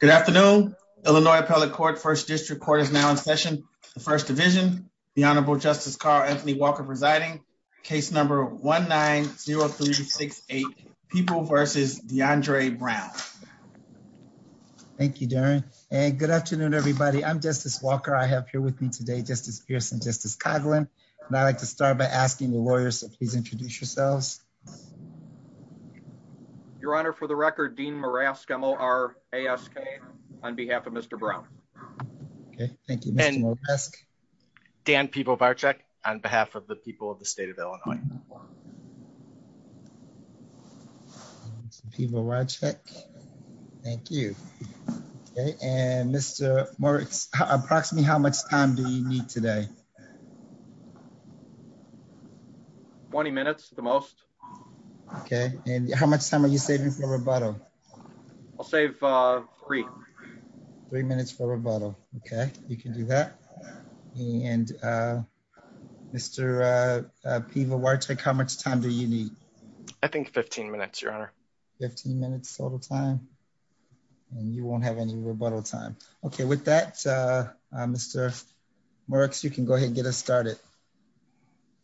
Good afternoon. Illinois Appellate Court, First District Court is now in session. The First Division, the Honorable Justice Carl Anthony Walker presiding, case number 1-9-0368, People vs. DeAndre Brown. Thank you, Darren, and good afternoon, everybody. I'm Justice Walker. I have here with me today Justice Pearson, Justice Coghlan, and I'd like to start by asking the lawyers to please ask on behalf of Mr. Brown. Okay, thank you. Dan Pebo-Varcek on behalf of the people of the state of Illinois. Pebo-Varcek, thank you. Okay, and Mr. Moritz, approximately how much time do you need today? 20 minutes, the most. Okay, and how much time are you saving for rebuttal? I'll save three. Three minutes for rebuttal. Okay, you can do that. And Mr. Pebo-Varcek, how much time do you need? I think 15 minutes, Your Honor. 15 minutes total time, and you won't have any rebuttal time. Okay, with that, Mr. Moritz, you can go ahead and get us started.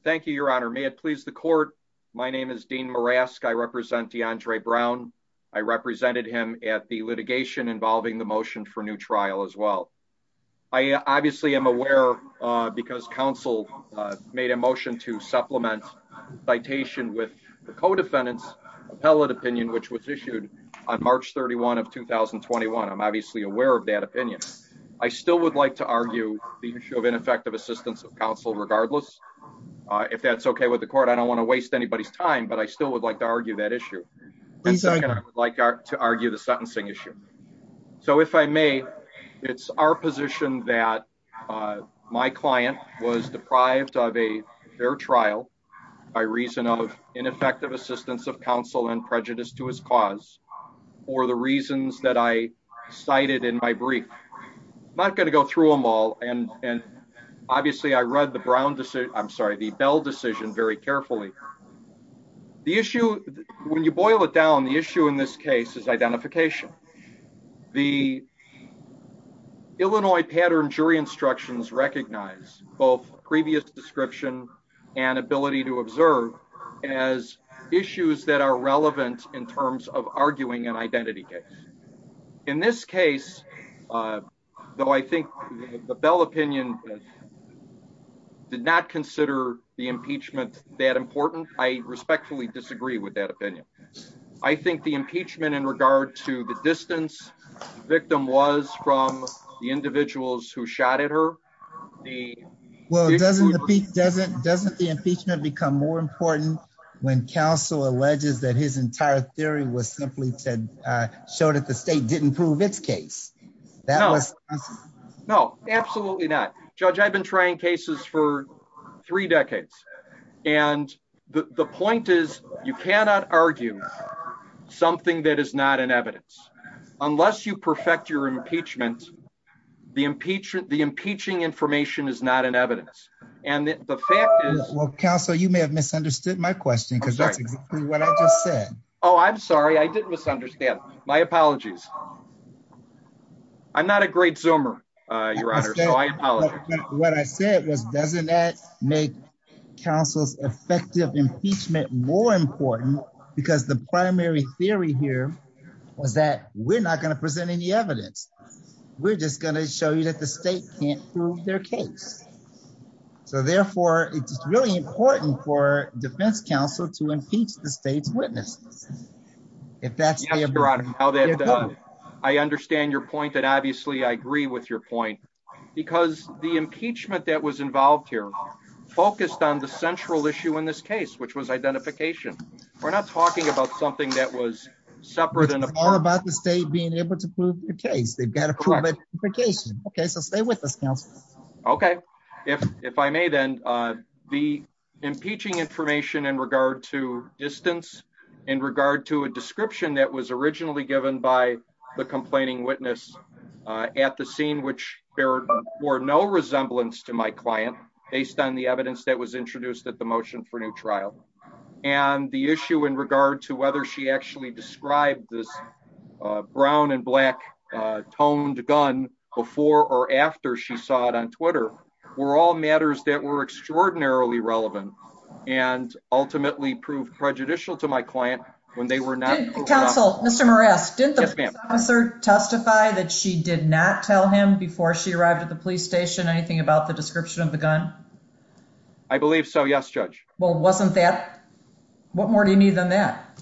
Thank you, Your Honor. May it please the court, my name is Dean Murask. I represent DeAndre Brown. I represented him at the litigation involving the motion for new trial as well. I obviously am aware, because counsel made a motion to supplement citation with the co-defendants appellate opinion, which was issued on March 31 of 2021. I'm obviously aware of that opinion. I still regardless, if that's okay with the court, I don't want to waste anybody's time, but I still would like to argue that issue. I would like to argue the sentencing issue. So if I may, it's our position that my client was deprived of a fair trial by reason of ineffective assistance of counsel and prejudice to his cause, or the reasons that I cited in my brief. I'm not going to go through them all, and obviously I read the Brown decision, I'm sorry, the Bell decision very carefully. The issue, when you boil it down, the issue in this case is identification. The Illinois pattern jury instructions recognize both previous description and ability to observe as issues that are relevant in terms of the Bell opinion, did not consider the impeachment that important. I respectfully disagree with that opinion. I think the impeachment in regard to the distance victim was from the individuals who shot at her. Well, doesn't the impeachment become more important when counsel alleges that his entire theory was simply to show that the state didn't prove its case? That no, absolutely not. Judge, I've been trying cases for three decades, and the point is, you cannot argue something that is not an evidence unless you perfect your impeachment. The impeachment, the impeaching information is not an evidence. And the fact is, counsel, you may have misunderstood my question because that's exactly what I just said. Oh, I'm sorry. I didn't misunderstand. My apologies. I'm not a great zoomer, Your Honor. So I apologize. What I said was, doesn't that make counsel's effective impeachment more important? Because the primary theory here was that we're not gonna present any evidence. We're just gonna show you that the state can't prove their case. So therefore, it's really important for defense counsel to impeach the state's witnesses. If that's how that I understand your point. And obviously, I agree with your point because the impeachment that was involved here focused on the central issue in this case, which was identification. We're not talking about something that was separate and all about the state being able to prove your case. They've got a private vacation. Okay, so stay with us. Counsel. Okay, if if I may, then, uh, the impeaching information in regard to distance in regard to a description that was originally given by the complaining witness at the scene, which there were no resemblance to my client based on the evidence that was introduced at the motion for new trial and the issue in regard to whether she actually described this brown and black toned gun before or after she saw it on Twitter were all matters that were proved prejudicial to my client when they were not counsel. Mr Morris, didn't the officer testify that she did not tell him before she arrived at the police station anything about the description of the gun? I believe so. Yes, Judge. Well, wasn't that what more do you need than that?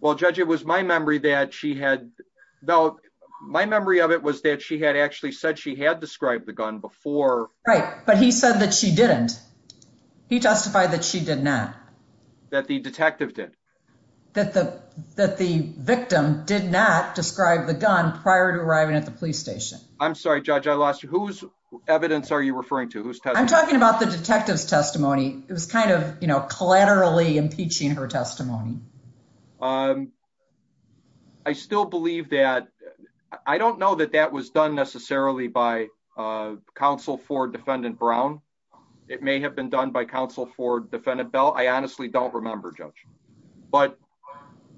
Well, Judge, it was my memory that she had. No, my memory of it was that she had actually said she had described the gun before. Right. But he said that she didn't. He testified that she did not, that the detective did, that the that the victim did not describe the gun prior to arriving at the police station. I'm sorry, Judge, I lost you. Whose evidence are you referring to? Who's talking about the detective's testimony? It was kind of, you know, collaterally impeaching her testimony. Um, I still believe that. I don't know that that was done necessarily by, uh, counsel for defendant brown. It may have been done by counsel for defendant bell. I honestly don't remember, Judge. But,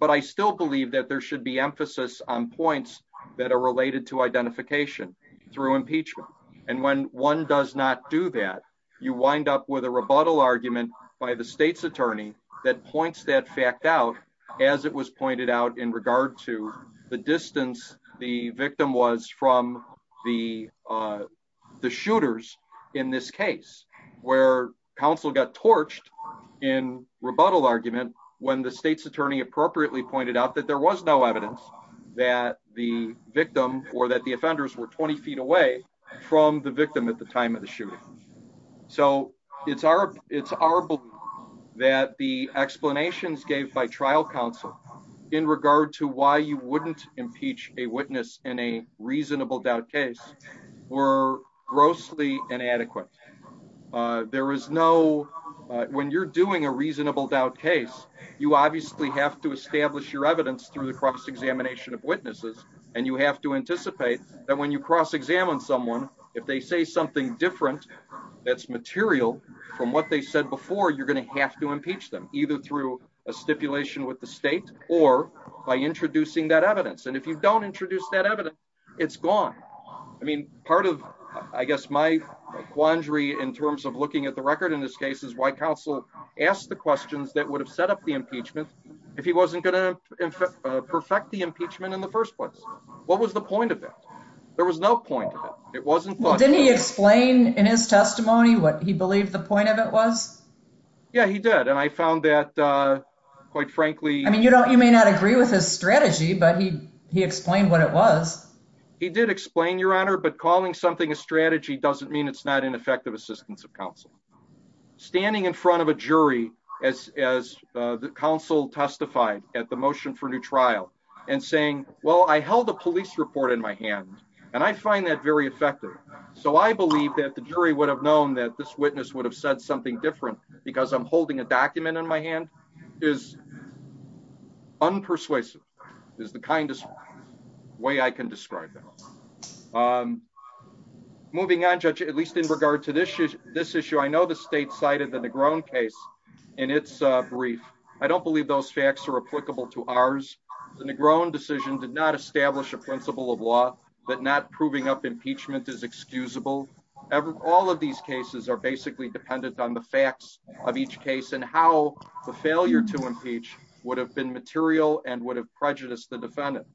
but I still believe that there should be emphasis on points that are related to identification through impeachment. And when one does not do that, you wind up with a rebuttal argument by the state's attorney that points that fact out as it was pointed out in regard to the distance the victim was from the, uh, the shooters in this case where counsel got torched in rebuttal argument when the state's attorney appropriately pointed out that there was no evidence that the victim or that the offenders were 20 ft away from the victim at the time of the shooting. So it's our, it's our belief that the explanations gave by trial counsel in regard to why you wouldn't impeach a witness in a reasonable doubt case were grossly inadequate. Uh, there is no, when you're doing a reasonable doubt case, you obviously have to establish your evidence through the cross examination of witnesses. And you have to anticipate that when you cross examine someone, if they say something different, that's material from what they said before, you're going to have to impeach them either through a state or by introducing that evidence. And if you don't introduce that evidence, it's gone. I mean, part of, I guess my quandary in terms of looking at the record in this case is why counsel asked the questions that would have set up the impeachment if he wasn't going to perfect the impeachment in the first place. What was the point of that? There was no point of it. It wasn't. Didn't he explain in his testimony what he believed the point of it was? Yeah, he did. And I found that quite frankly, I mean, you don't, you may not agree with his strategy, but he explained what it was. He did explain your honor. But calling something a strategy doesn't mean it's not an effective assistance of counsel standing in front of a jury as as the council testified at the motion for new trial and saying, well, I held a police report in my hand and I find that very effective. So I believe that the jury would have known that this witness would have said something different because I'm holding a document in my hand is unpersuasive is the kindest way I can describe it. Um, moving on, judge, at least in regard to this issue, this issue, I know the state cited the grown case in its brief. I don't believe those facts are applicable to ours. The grown decision did not establish a usable. All of these cases are basically dependent on the facts of each case and how the failure to impeach would have been material and would have prejudiced the defendant.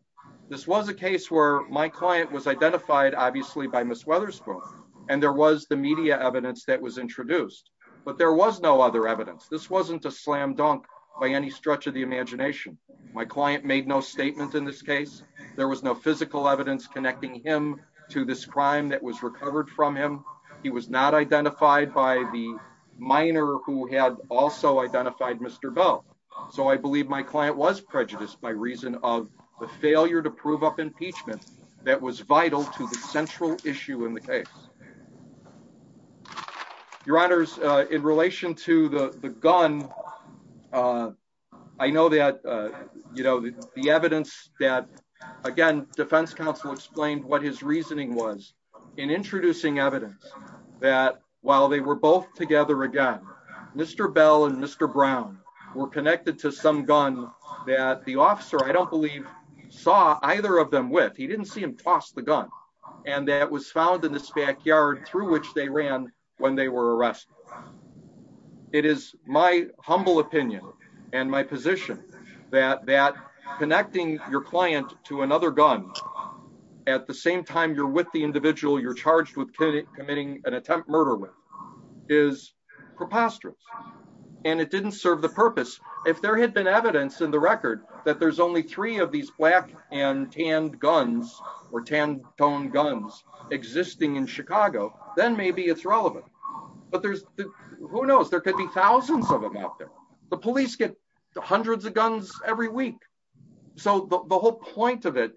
This was a case where my client was identified obviously by Miss Weatherspoon and there was the media evidence that was introduced, but there was no other evidence. This wasn't a slam dunk by any stretch of the imagination. My client made no statement in this case. There was no physical evidence connecting him to this crime that was recovered from him. He was not identified by the minor who had also identified Mr Bell. So I believe my client was prejudiced by reason of the failure to prove up impeachment that was vital to the central issue in the case. Your honor's in relation to the gun. Uh, I know that, uh, you know, the reasoning was in introducing evidence that while they were both together again, Mr Bell and Mr Brown were connected to some gun that the officer I don't believe saw either of them with. He didn't see him toss the gun and that was found in this backyard through which they ran when they were arrested. It is my humble opinion and my position that that connecting your client to same time you're with the individual you're charged with committing an attempt murder with is preposterous, and it didn't serve the purpose. If there had been evidence in the record that there's only three of these black and tanned guns or tan tone guns existing in Chicago, then maybe it's relevant. But there's who knows? There could be thousands of them out there. The police get hundreds of guns every week. So the whole point of it,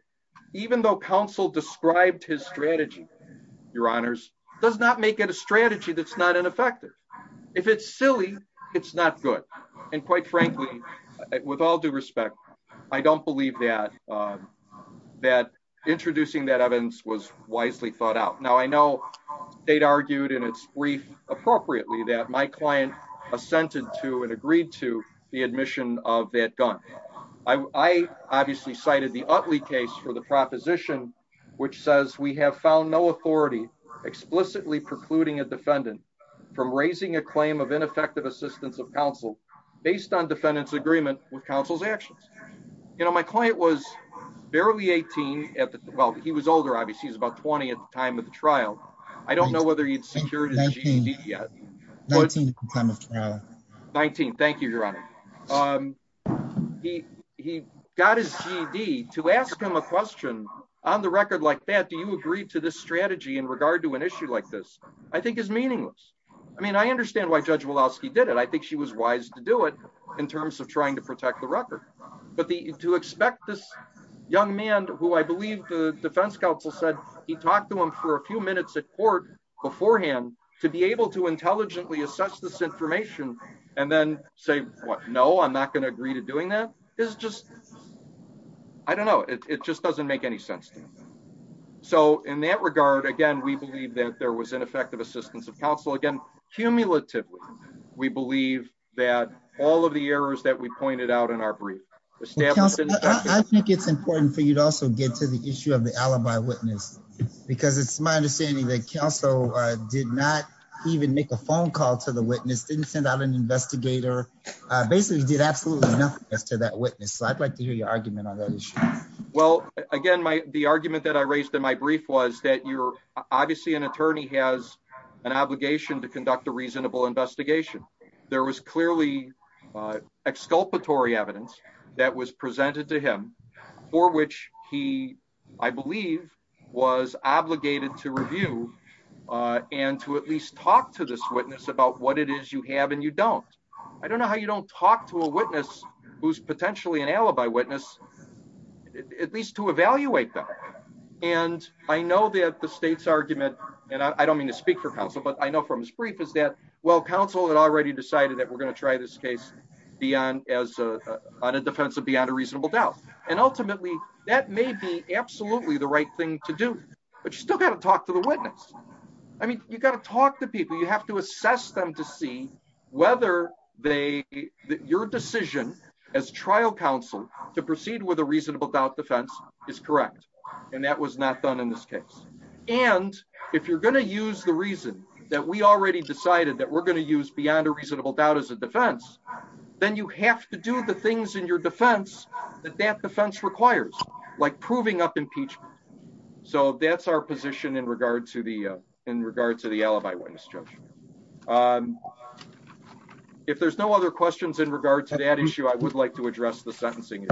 even though counsel described his strategy, your honors does not make it a strategy that's not ineffective. If it's silly, it's not good. And quite frankly, with all due respect, I don't believe that, uh, that introducing that evidence was wisely thought out. Now I know they'd argued in its brief appropriately that my client assented to and agreed to the admission of that gun. I obviously cited the ugly case for the proposition, which says we have found no authority explicitly precluding a defendant from raising a claim of ineffective assistance of counsel based on defendants agreement with counsel's actions. You know, my client was barely 18. Well, he was older. Obviously, he's about 20 at the time of the trial. I don't know whether he'd be to ask him a question on the record like that. Do you agree to this strategy in regard to an issue like this? I think is meaningless. I mean, I understand why Judge Woloski did it. I think she was wise to do it in terms of trying to protect the record. But to expect this young man who I believe the defense counsel said he talked to him for a few minutes at court beforehand to be able to intelligently assess this information and then say, No, I'm not gonna agree to doing that is just I don't know. It just doesn't make any sense. So in that regard again, we believe that there was ineffective assistance of counsel again. Cumulatively, we believe that all of the errors that we pointed out in our brief established, I think it's important for you to also get to the issue of the alibi witness because it's my understanding that council did not even make a phone call to the witness didn't send out an investigator basically did absolutely nothing as to that witness. So I'd like to hear your argument on that issue. Well, again, my argument that I raised in my brief was that you're obviously an attorney has an obligation to conduct a reasonable investigation. There was clearly uh exculpatory evidence that was presented to him for which he I believe was obligated to review uh and to at least talk to this witness about what it is you have and you don't. I don't know how you don't talk to a witness who's potentially an alibi witness, at least to evaluate them. And I know that the state's argument and I don't mean to speak for counsel, but I know from his brief is that well, council had already decided that we're gonna try this case beyond as a defense of beyond a reasonable doubt. And ultimately, that may be absolutely the right thing to do. But you still got to talk to the witness. I mean, you've got to talk to people. You have to assess them to see whether they your decision as trial counsel to proceed with a reasonable doubt defense is correct. And that was not done in this case. And if you're going to use the reason that we already decided that we're going to use beyond a reasonable doubt as a defense, then you have to do the things in your defense that that defense requires, like proving up impeachment. So that's our if there's no other questions in regard to that issue, I would like to address the sentencing.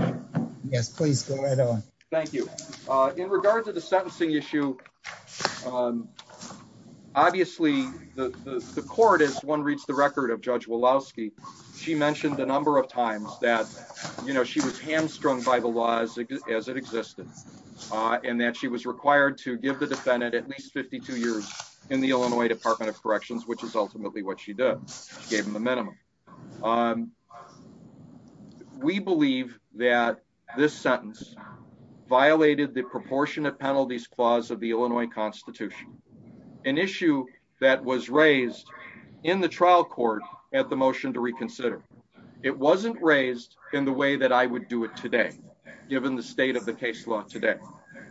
Yes, please go right on. Thank you. Uh, in regard to the sentencing issue. Um, obviously, the court is one reads the record of Judge Walowski. She mentioned the number of times that, you know, she was hamstrung by the laws as it existed on that she was required to give the defendant at least 52 years in the Illinois Department of Corrections, which is what she did. Gave him the minimum. Um, we believe that this sentence violated the proportionate penalties clause of the Illinois Constitution, an issue that was raised in the trial court at the motion to reconsider. It wasn't raised in the way that I would do it today, given the state of the case law today.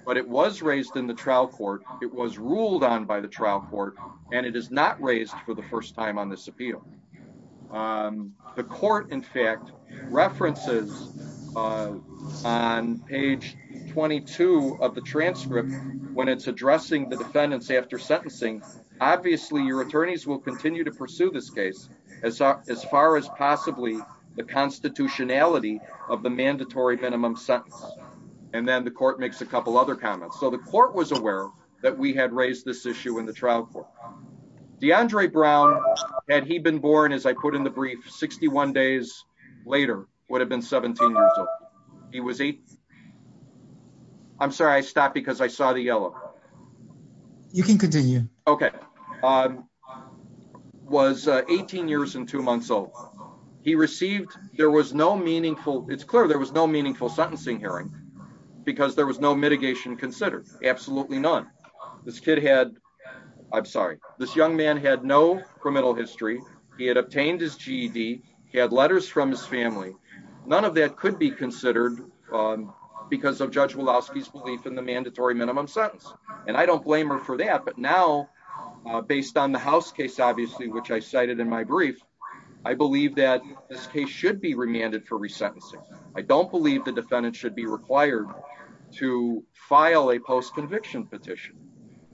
But it was raised in the trial court. It was ruled on by the trial court, and it is not raised for the first time on this appeal. Um, the court, in fact, references, uh, on page 22 of the transcript when it's addressing the defendants after sentencing. Obviously, your attorneys will continue to pursue this case as far as possibly the constitutionality of the mandatory minimum sentence. And then the court makes a couple other comments. So the court was aware that we had raised this issue in the trial court. Deandre Brown had he been born as I put in the brief 61 days later would have been 17 years old. He was eight. I'm sorry. I stopped because I saw the yellow. You can continue. Okay. Um, was 18 years and two months old. He received. There was no meaningful. It's clear there was no meaningful sentencing hearing because there was no mitigation considered. Absolutely none. This kid had. I'm sorry. This young man had no criminal history. He had obtained his G. D. Had letters from his family. None of that could be considered because of Judge Woloski's belief in the mandatory minimum sentence. And I don't blame her for that. But now, based on the house case, obviously, which I cited in my brief, I believe that this case should be remanded for resentencing. I don't believe the defendant should be required to file a post conviction petition.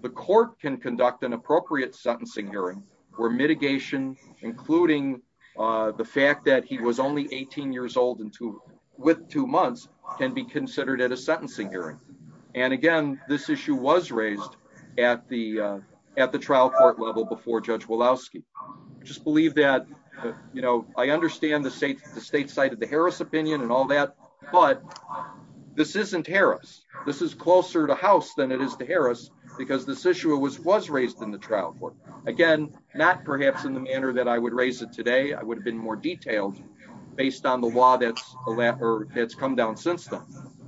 The court can conduct an appropriate sentencing hearing where mitigation, including the fact that he was only 18 years old and two with two months can be considered at a sentencing hearing. And again, this issue was raised at the at the trial court level before Judge Woloski just believe that, you know, I understand the state, the state side of the Harris opinion and all that. But this isn't Harris. This is closer to house than it is to Harris because this issue was was raised in the trial court again, not perhaps in the manner that I would raise it today. I would have been more detailed based on the law. That's a letter that's come down since then.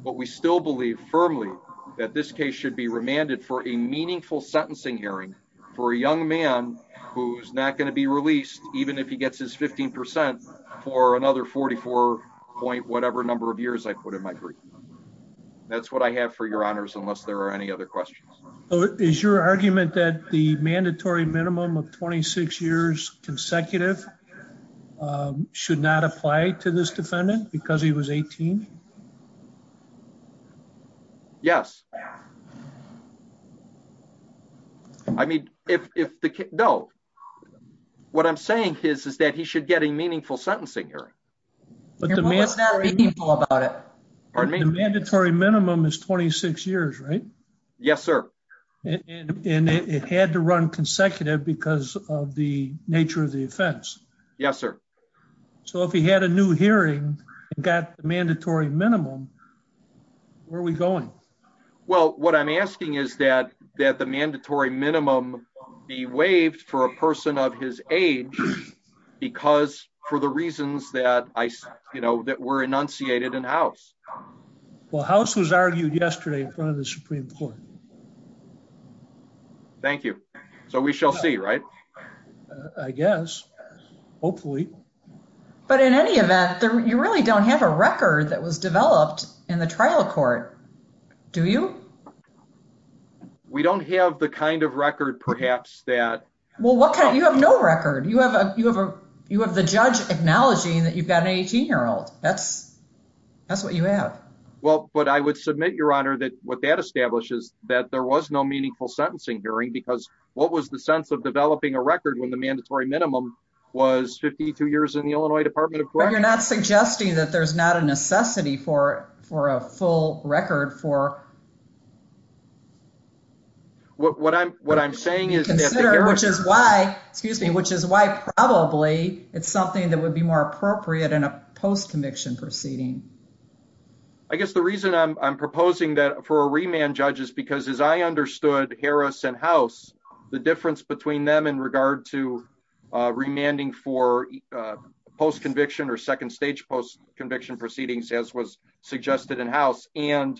But we still believe firmly that this case should be who's not going to be released even if he gets his 15% for another 44 point whatever number of years I put in my brief. That's what I have for your honors. Unless there are any other questions, is your argument that the mandatory minimum of 26 years consecutive, um, should not apply to this defendant because he was 18. Yes. Yeah. I mean, if if the no, what I'm saying is, is that he should get a meaningful sentencing here. But the man is not meaningful about it. The mandatory minimum is 26 years, right? Yes, sir. And it had to run consecutive because of the nature of the offense. Yes, sir. So if he had a new hearing, got the mandatory minimum, um, where are we going? Well, what I'm asking is that that the mandatory minimum be waived for a person of his age because for the reasons that I, you know, that were enunciated in house. Well, house was argued yesterday in front of the Supreme Court. Thank you. So we shall see, right? I guess. Hopefully. But in any event, you really don't have a record that was developed in the trial court, do you? We don't have the kind of record, perhaps that well, what can you have? No record. You have a you have a you have the judge acknowledging that you've got an 18 year old. That's that's what you have. Well, but I would submit your honor that what that establishes that there was no meaningful sentencing hearing because what was the sense of developing a record when the mandatory minimum was 52 years in the Illinois Department of you're not suggesting that there's not a necessity for for a full record for what I'm what I'm saying is, which is why excuse me, which is why probably it's something that would be more appropriate in a post conviction proceeding. I guess the reason I'm proposing that for a remand judges, because, as I understood Harris and House, the difference between them in regard to remanding for post conviction or second stage post conviction proceedings, as was suggested in house and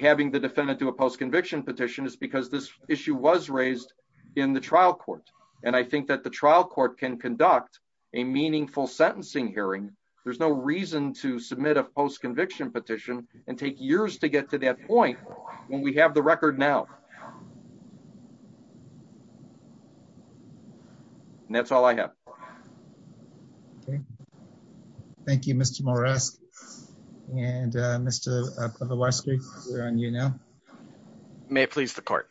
having the defendant to a post conviction petition is because this issue was raised in the trial court. And I think that the trial court can conduct a meaningful sentencing hearing. There's no reason to submit a post conviction petition and take years to get to that point when we have the record now. That's all I have. Thank you, Mr Morris. And, uh, Mr. For the last week on, you know, may please the court.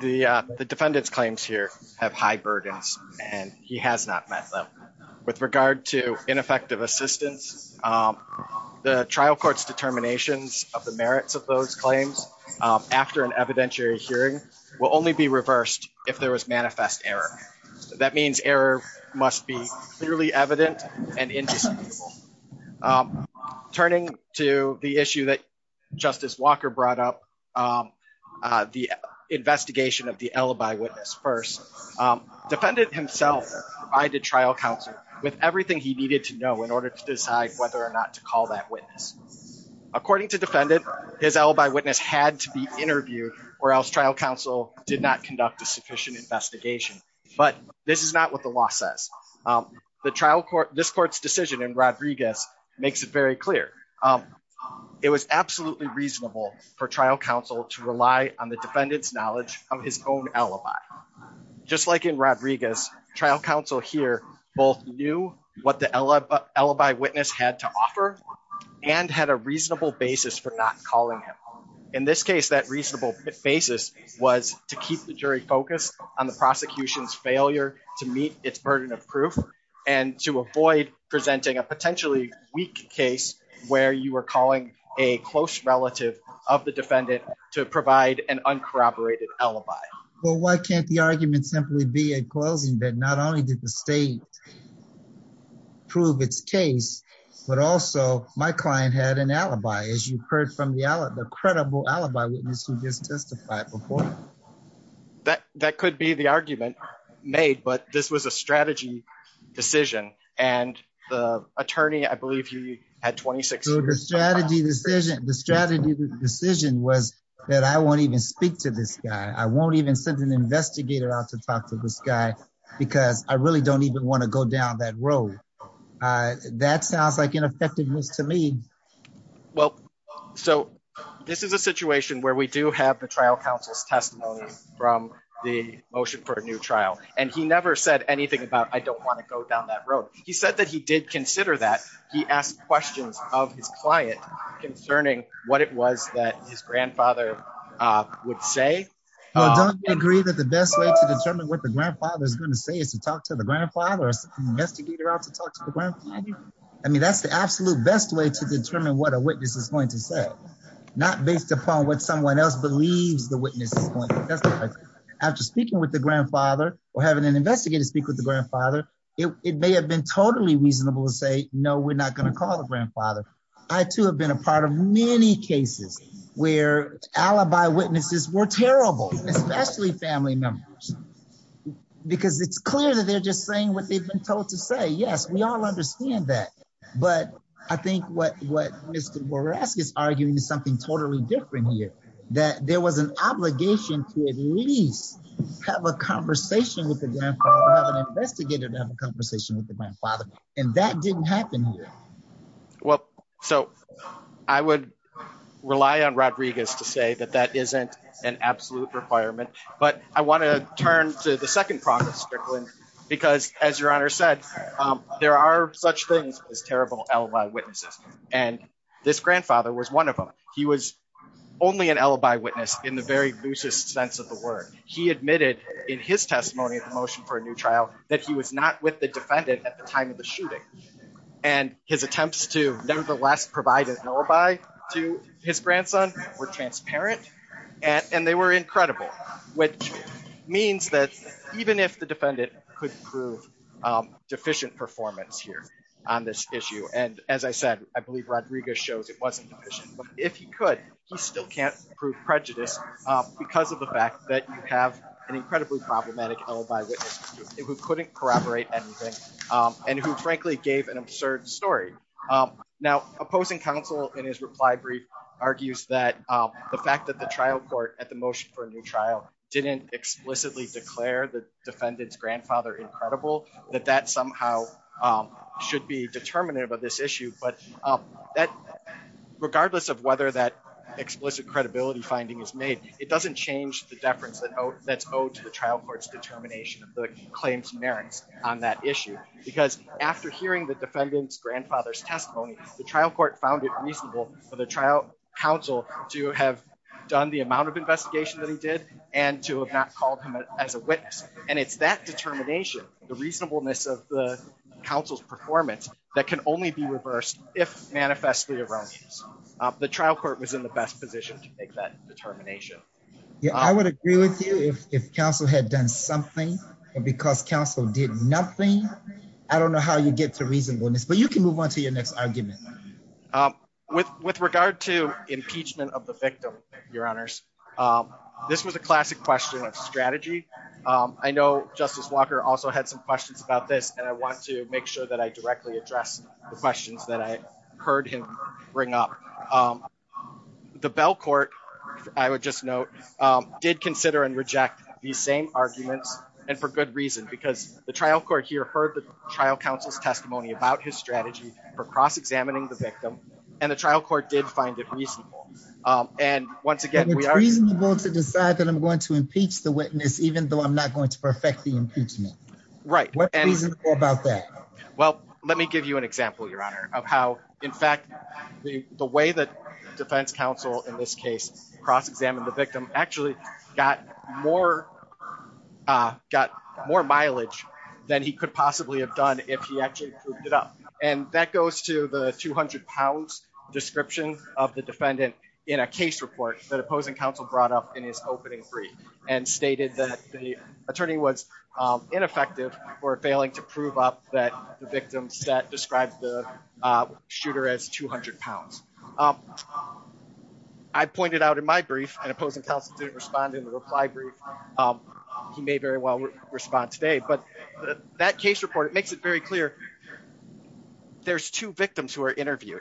The defendant's claims here have high burdens and he has not met them with regard to ineffective assistance. Um, the trial court's determinations of the merits of those claims after an evidentiary hearing will only be reversed if there was manifest error. That means error must be clearly evident and indisputable. Um, turning to the issue that Justice Walker brought up, um, uh, the investigation of the alibi witness. First, um, defendant himself provided trial counsel with everything he needed to know in order to decide whether or not to call that witness. According to defendant, his did not conduct a sufficient investigation, but this is not what the law says. Um, the trial court, this court's decision in Rodriguez makes it very clear. Um, it was absolutely reasonable for trial counsel to rely on the defendant's knowledge of his own alibi. Just like in Rodriguez trial counsel here both knew what the alibi witness had to offer and had a reasonable basis for not calling him. In this case, that reasonable basis was to keep the jury focused on the prosecution's failure to meet its burden of proof and to avoid presenting a potentially weak case where you were calling a close relative of the defendant to provide an uncorroborated alibi. Well, why can't the argument simply be a closing that not only did the state prove its case, but also my client had an alibi. As you heard from the credible alibi witness who just testified before. That that could be the argument made. But this was a strategy decision. And the attorney, I believe you had 26 strategy decision. The strategy decision was that I won't even speak to this guy. I won't even send an investigator out to talk to this guy because I really don't even want to go down that road. Uh, that sounds like effectiveness to me. Well, so this is a situation where we do have the trial counsel's testimony from the motion for a new trial. And he never said anything about I don't want to go down that road. He said that he did consider that he asked questions of his client concerning what it was that his grandfather would say. Don't agree that the best way to determine what the grandfather is going to say is to talk to the grandfather's investigator out to talk to the ground. I mean, that's the absolute best way to determine what a witness is going to say, not based upon what someone else believes. The witness is going after speaking with the grandfather or having an investigator speak with the grandfather. It may have been totally reasonable to say, No, we're not going to call the grandfather. I, too, have been a part of many cases where alibi witnesses were terrible, especially family members, because it's clear that they're just saying what they've been told to say. Yes, we all understand that. But I think what what Mr Borasky is arguing is something totally different here, that there was an obligation to at least have a conversation with the grandfather, an investigator to have a conversation with the grandfather, and that didn't happen here. Well, so I would rely on Rodriguez to say that that isn't an absolute requirement. But I there are such things as terrible alibi witnesses, and this grandfather was one of them. He was only an alibi witness in the very loosest sense of the word. He admitted in his testimony of the motion for a new trial that he was not with the defendant at the time of the shooting, and his attempts to nevertheless provided an alibi to his grandson were transparent, and they were incredible, which means that even if the defendant could prove deficient performance here on this issue, and as I said, I believe Rodriguez shows it wasn't deficient, but if he could, he still can't prove prejudice because of the fact that you have an incredibly problematic alibi witness who couldn't corroborate anything and who frankly gave an absurd story. Now, opposing counsel in his reply brief argues that the fact that the trial court at the motion for a new trial didn't explicitly declare the defendant's should be determinative of this issue, but that regardless of whether that explicit credibility finding is made, it doesn't change the deference that's owed to the trial court's determination of the claims merits on that issue because after hearing the defendant's grandfather's testimony, the trial court found it reasonable for the trial counsel to have done the amount of investigation that he did and to have not called him as a witness, and it's that determination, the reasonableness of the counsel's performance that can only be reversed if manifestly erroneous. The trial court was in the best position to make that determination. Yeah, I would agree with you if counsel had done something because counsel did nothing. I don't know how you get to reasonableness, but you can move on to your next argument with with regard to impeachment of the victim. Your honors. Um, this was a walker also had some questions about this, and I want to make sure that I directly address the questions that I heard him bring up. Um, the Bell court, I would just note, um, did consider and reject these same arguments and for good reason, because the trial court here heard the trial counsel's testimony about his strategy for cross examining the victim, and the trial court did find it reasonable. Um, and once again, we are reasonable to decide that I'm going to impeach the witness, even though I'm not going to affect the impeachment. Right. What about that? Well, let me give you an example, Your Honor, of how, in fact, the way that defense counsel in this case cross examined the victim actually got more, uh, got more mileage than he could possibly have done if he actually proved it up. And that goes to the £200 description of the defendant in a case report that opposing counsel brought up in his opening three and stated that the was ineffective for failing to prove up that the victims that described the, uh, shooter as £200. Um, I pointed out in my brief and opposing counsel didn't respond in the reply brief. Um, he may very well respond today, but that case report, it makes it very clear. There's two victims who are interviewed,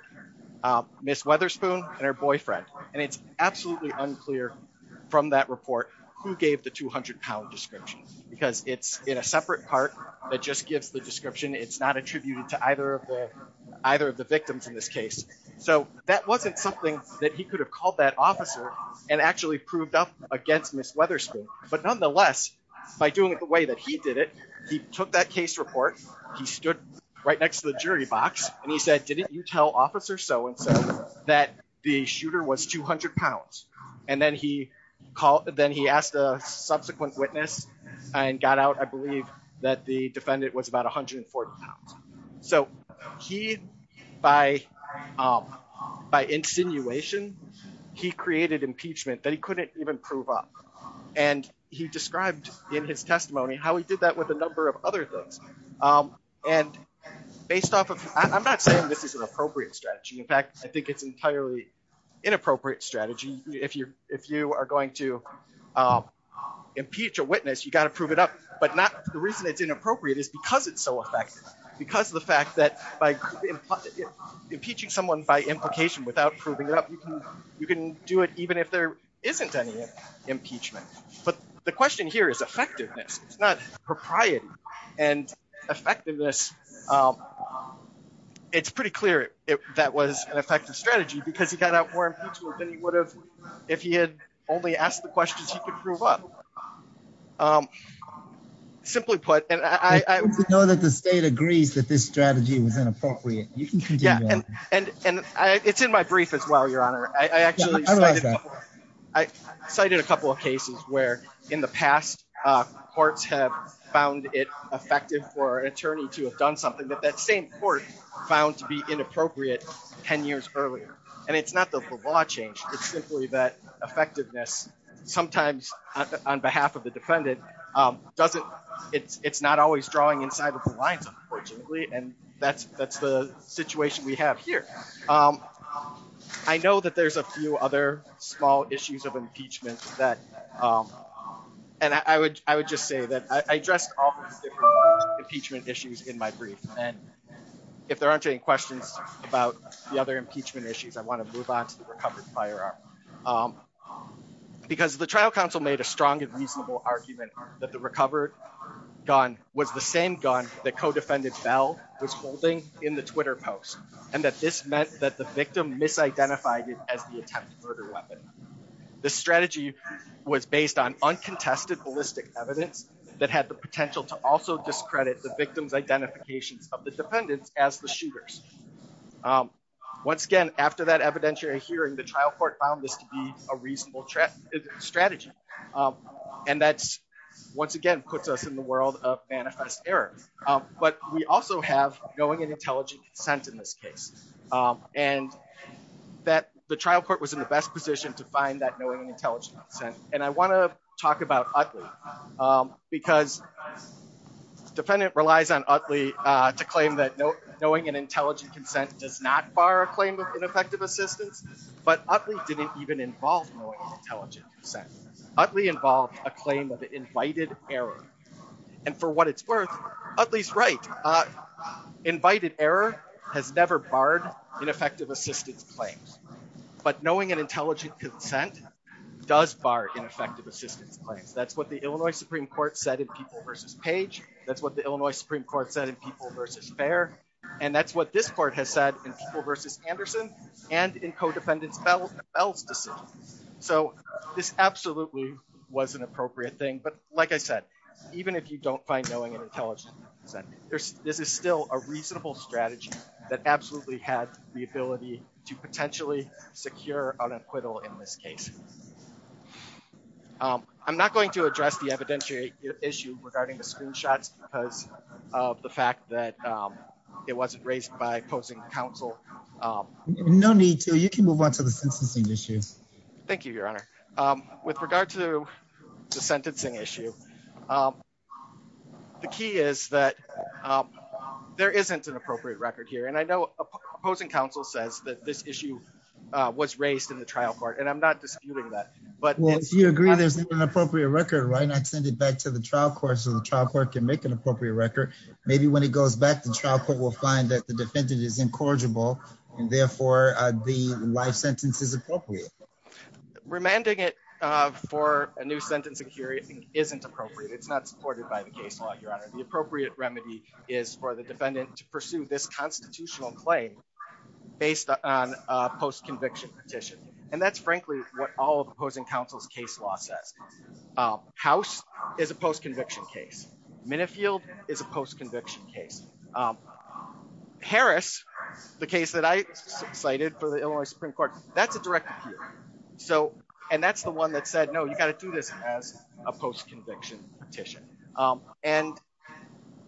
uh, Miss Weatherspoon and her boyfriend, and it's absolutely unclear from that report who gave the £200 descriptions because it's in a separate part that just gives the description. It's not attributed to either of the either of the victims in this case. So that wasn't something that he could have called that officer and actually proved up against Miss Weatherspoon. But nonetheless, by doing it the way that he did it, he took that case report. He stood right next to the jury box, and he said, Didn't you tell officer so and so that the shooter was £200? And then he called. Then he asked a subsequent witness and got out. I believe that the defendant was about £140. So he by, um, by insinuation, he created impeachment that he couldn't even prove up. And he described in his testimony how he did that with a number of other things. Um, and based off of I'm not saying this is an appropriate strategy. In fact, I think it's entirely inappropriate strategy. If you're if you are going to, um, impeach a witness, you gotta prove it up. But not the reason it's inappropriate is because it's so effective because of the fact that by impeaching someone by implication without proving it up, you can you can do it even if there isn't any impeachment. But the question here is effectiveness. It's not propriety and effectiveness. Um, it's pretty clear that was an effective strategy because he got out more impetuous than he would have if he had only asked the questions he could prove up. Um, simply put, and I know that the state agrees that this strategy was inappropriate. You can continue. And it's in my brief as well. Your honor, I actually I cited a couple of cases where in the past, uh, courts have found it effective for an attorney to have done something that that same court found to be inappropriate 10 years earlier. And it's not the law change. It's simply that effectiveness sometimes on behalf of the defendant, um, doesn't it's not always drawing inside of the lines, unfortunately. And that's that's the situation we have here. Um, I know that there's a few other small issues of impeachment that, um, and I would, I would just say that I addressed all impeachment issues in my brief. And if there aren't any questions about the other impeachment issues, I want to move on to the recovered firearm. Um, because the trial counsel made a strong and reasonable argument that the recovered gun was the same gun that co defended bell was holding in the twitter post and that this meant that the victim misidentified it as the attempted murder weapon. The strategy was based on uncontested ballistic evidence that had the potential to also discredit the victim's identifications of the dependents as the shooters. Um, once again, after that evidentiary hearing, the trial court found this to be a reasonable strategy. Um, and that's once again puts us in the world of manifest error. But we also have going and intelligent consent in this case. Um, and that the trial court was in the best position to find that knowing intelligent consent. And I want to talk about ugly because defendant relies on ugly to claim that knowing an intelligent consent does not fire a claim of ineffective assistance. But ugly didn't even involve knowing intelligent consent. Ugly involved a claim of invited error. And for what it's worth, at least right, uh, invited error has never barred ineffective assistance claims. But knowing an intelligent consent does bar ineffective assistance claims. That's what the Illinois Supreme Court said in people versus page. That's what the Illinois Supreme Court said in people versus fair. And that's what this court has said in people versus Anderson and in co defendants bells bells decision. So this absolutely was an appropriate thing. But like I said, even if you don't find knowing an intelligent consent, there's this is still a reasonable strategy that absolutely had the ability to potentially secure an acquittal in this case. Um, I'm not going to address the evidentiary issue regarding the screenshots because of the fact that, um, it wasn't raised by opposing counsel. Um, no need to. You can move on to the sentencing issues. Thank you, Your Honor. Um, with regard to the sentencing issue, um, the key is that, um, there isn't an appropriate record here. And I know opposing counsel says that this issue was raised in the trial court, and I'm not disputing that. But you agree there's an appropriate record, right? Not send it back to the trial court. So the trial court can make an appropriate record. Maybe when it goes back to the trial court will find that the defendant is incorrigible and for the life sentences appropriate, remanding it for a new sentencing. Curious isn't appropriate. It's not supported by the case law. Your Honor, the appropriate remedy is for the defendant to pursue this constitutional claim based on post conviction petition. And that's frankly what all opposing counsel's case law says. Uh, house is a post conviction case. Minifield is a post conviction case. Um, Harris, the case that I cited for the Illinois Supreme Court. That's a direct. So and that's the one that said, No, you've got to do this as a post conviction petition. Um, and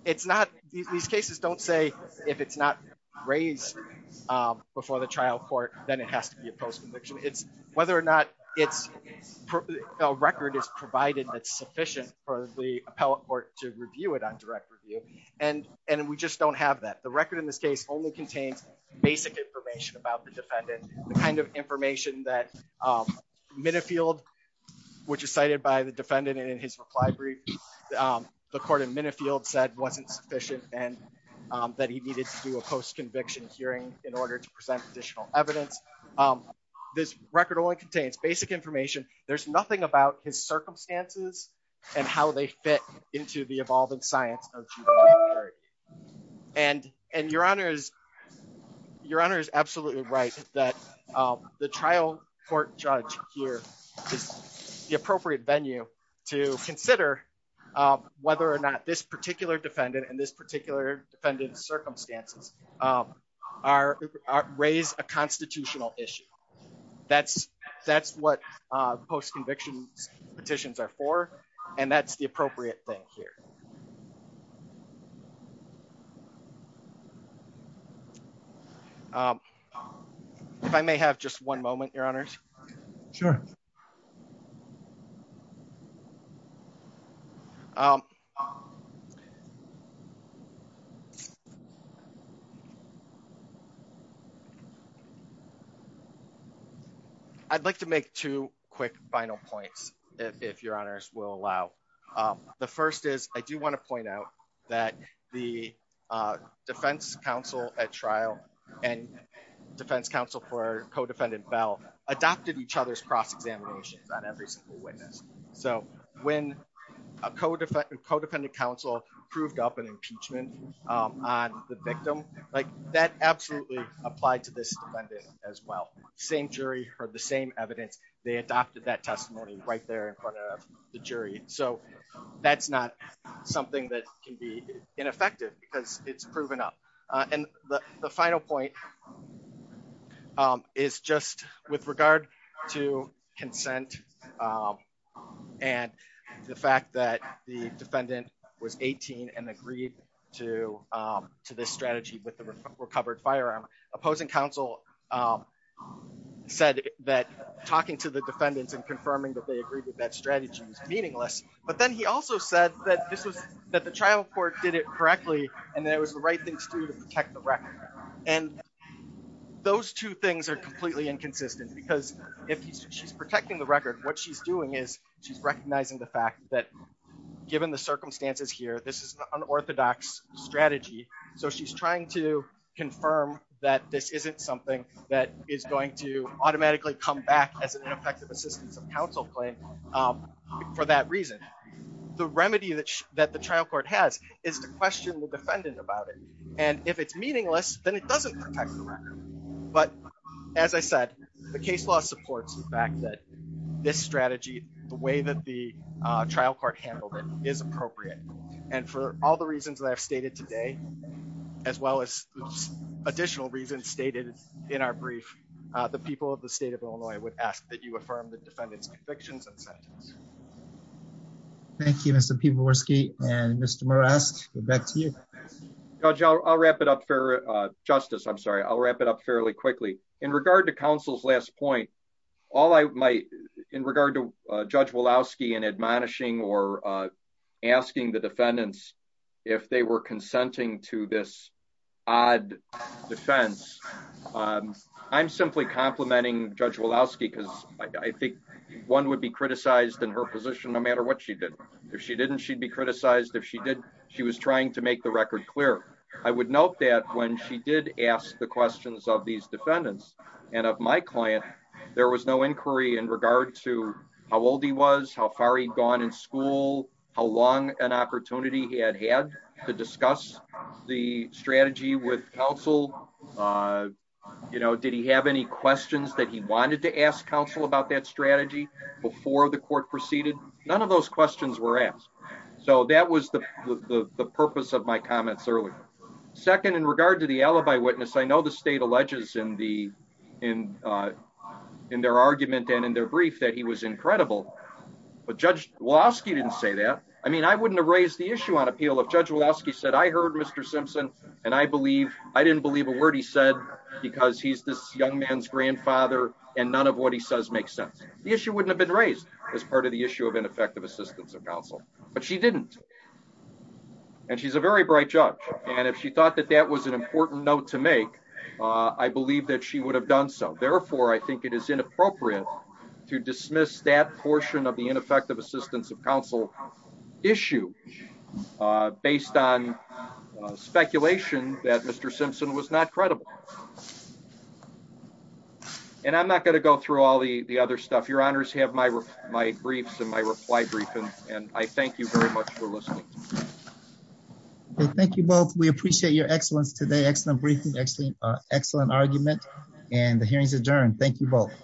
it's not. These cases don't say if it's not raised before the trial court, then it has to be a post conviction. It's whether or not it's a record is provided. That's sufficient for the appellate court to review it on direct review. And and we just don't have that. The record in this case only contains basic information about the defendant. The kind of information that, um, Minifield, which is cited by the defendant in his reply brief. Um, the court in Minifield said wasn't sufficient and that he needed to do a post conviction hearing in order to present additional evidence. Um, this record only contains basic information. There's nothing about his circumstances and how they fit into the evolving science. And your honor is your honor is absolutely right that the trial court judge here is the appropriate venue to consider whether or not this particular defendant and this particular defendant's circumstances, um, are raised a conviction petitions are for, and that's the appropriate thing here. Um, if I may have just one moment, your honors. Sure. Um, okay. I'd like to make two quick final points if your honors will allow. Um, the first is, I do want to point out that the, uh, defense counsel at trial and defense counsel for co defendant bell adopted each other's cross examinations on every single witness. So when a co defendant co defendant counsel proved up an impeachment on the victim, like that absolutely applied to this defendant as well. Same jury heard the same evidence. They adopted that testimony right there in front of the jury. So that's not something that can be ineffective because it's proven up. Uh, and the final point, um, is just with regard to consent. Um, and the fact that the defendant was 18 and agreed to, um, to this strategy with the recovered firearm opposing counsel, um, said that talking to the defendants and confirming that they agreed with that strategy was meaningless. But then he also said that this was that the trial court did it correctly and there was the right thing to do to protect the record. And those two things are completely inconsistent because if she's protecting the record, what she's doing is she's recognizing the fact that given the circumstances here, this is an unorthodox strategy. So she's trying to confirm that this isn't something that is going to automatically come back as an ineffective assistance of counsel claim. Um, for that reason, the remedy that that the trial court has is to question the defendant about and if it's meaningless, then it doesn't protect the record. But as I said, the case law supports the fact that this strategy, the way that the trial court handled it is appropriate. And for all the reasons that I've stated today, as well as additional reasons stated in our brief, the people of the state of Illinois would ask that you affirm the defendant's convictions and sentence. Yes. Thank you. Mr. People were ski and Mr Morales. We're back to you. Judge, I'll wrap it up for justice. I'm sorry. I'll wrap it up fairly quickly in regard to counsel's last point. All I might in regard to Judge Woloski and admonishing or asking the defendants if they were consenting to this odd defense. Um, I'm simply complimenting Judge Woloski because I think one would be criticized in her position no matter what she did. If she didn't, she'd be criticized. If she did, she was trying to make the record clear. I would note that when she did ask the questions of these defendants and of my client, there was no inquiry in regard to how old he was, how far he'd gone in school, how long an opportunity he had had to discuss the strategy with counsel. Uh, you know, did he have any questions that he wanted to ask counsel about that strategy before the court proceeded? None of those questions were asked. So that was the purpose of my comments earlier. Second, in regard to the alibi witness, I know the state alleges in the in, uh, in their argument and in their brief that he was incredible. But Judge Woloski didn't say that. I mean, I wouldn't have raised the issue on appeal of Judge Woloski said, I heard Mr Simpson and I believe I didn't believe a word he said because he's this young man's grandfather and none of what he says makes sense. The issue wouldn't have been raised as part of the issue of ineffective assistance of counsel, but she didn't and she's a very bright judge. And if she thought that that was an important note to make, I believe that she would have done so. Therefore, I think it is inappropriate to dismiss that portion of the ineffective assistance of counsel issue, uh, based on speculation that Mr Simpson was not credible. Mhm. And I'm not going to go through all the other stuff. Your honors have my briefs and my reply briefing and I thank you very much for listening. Thank you both. We appreciate your excellence today. Excellent briefing, excellent, excellent argument and the hearings adjourned. Thank you both.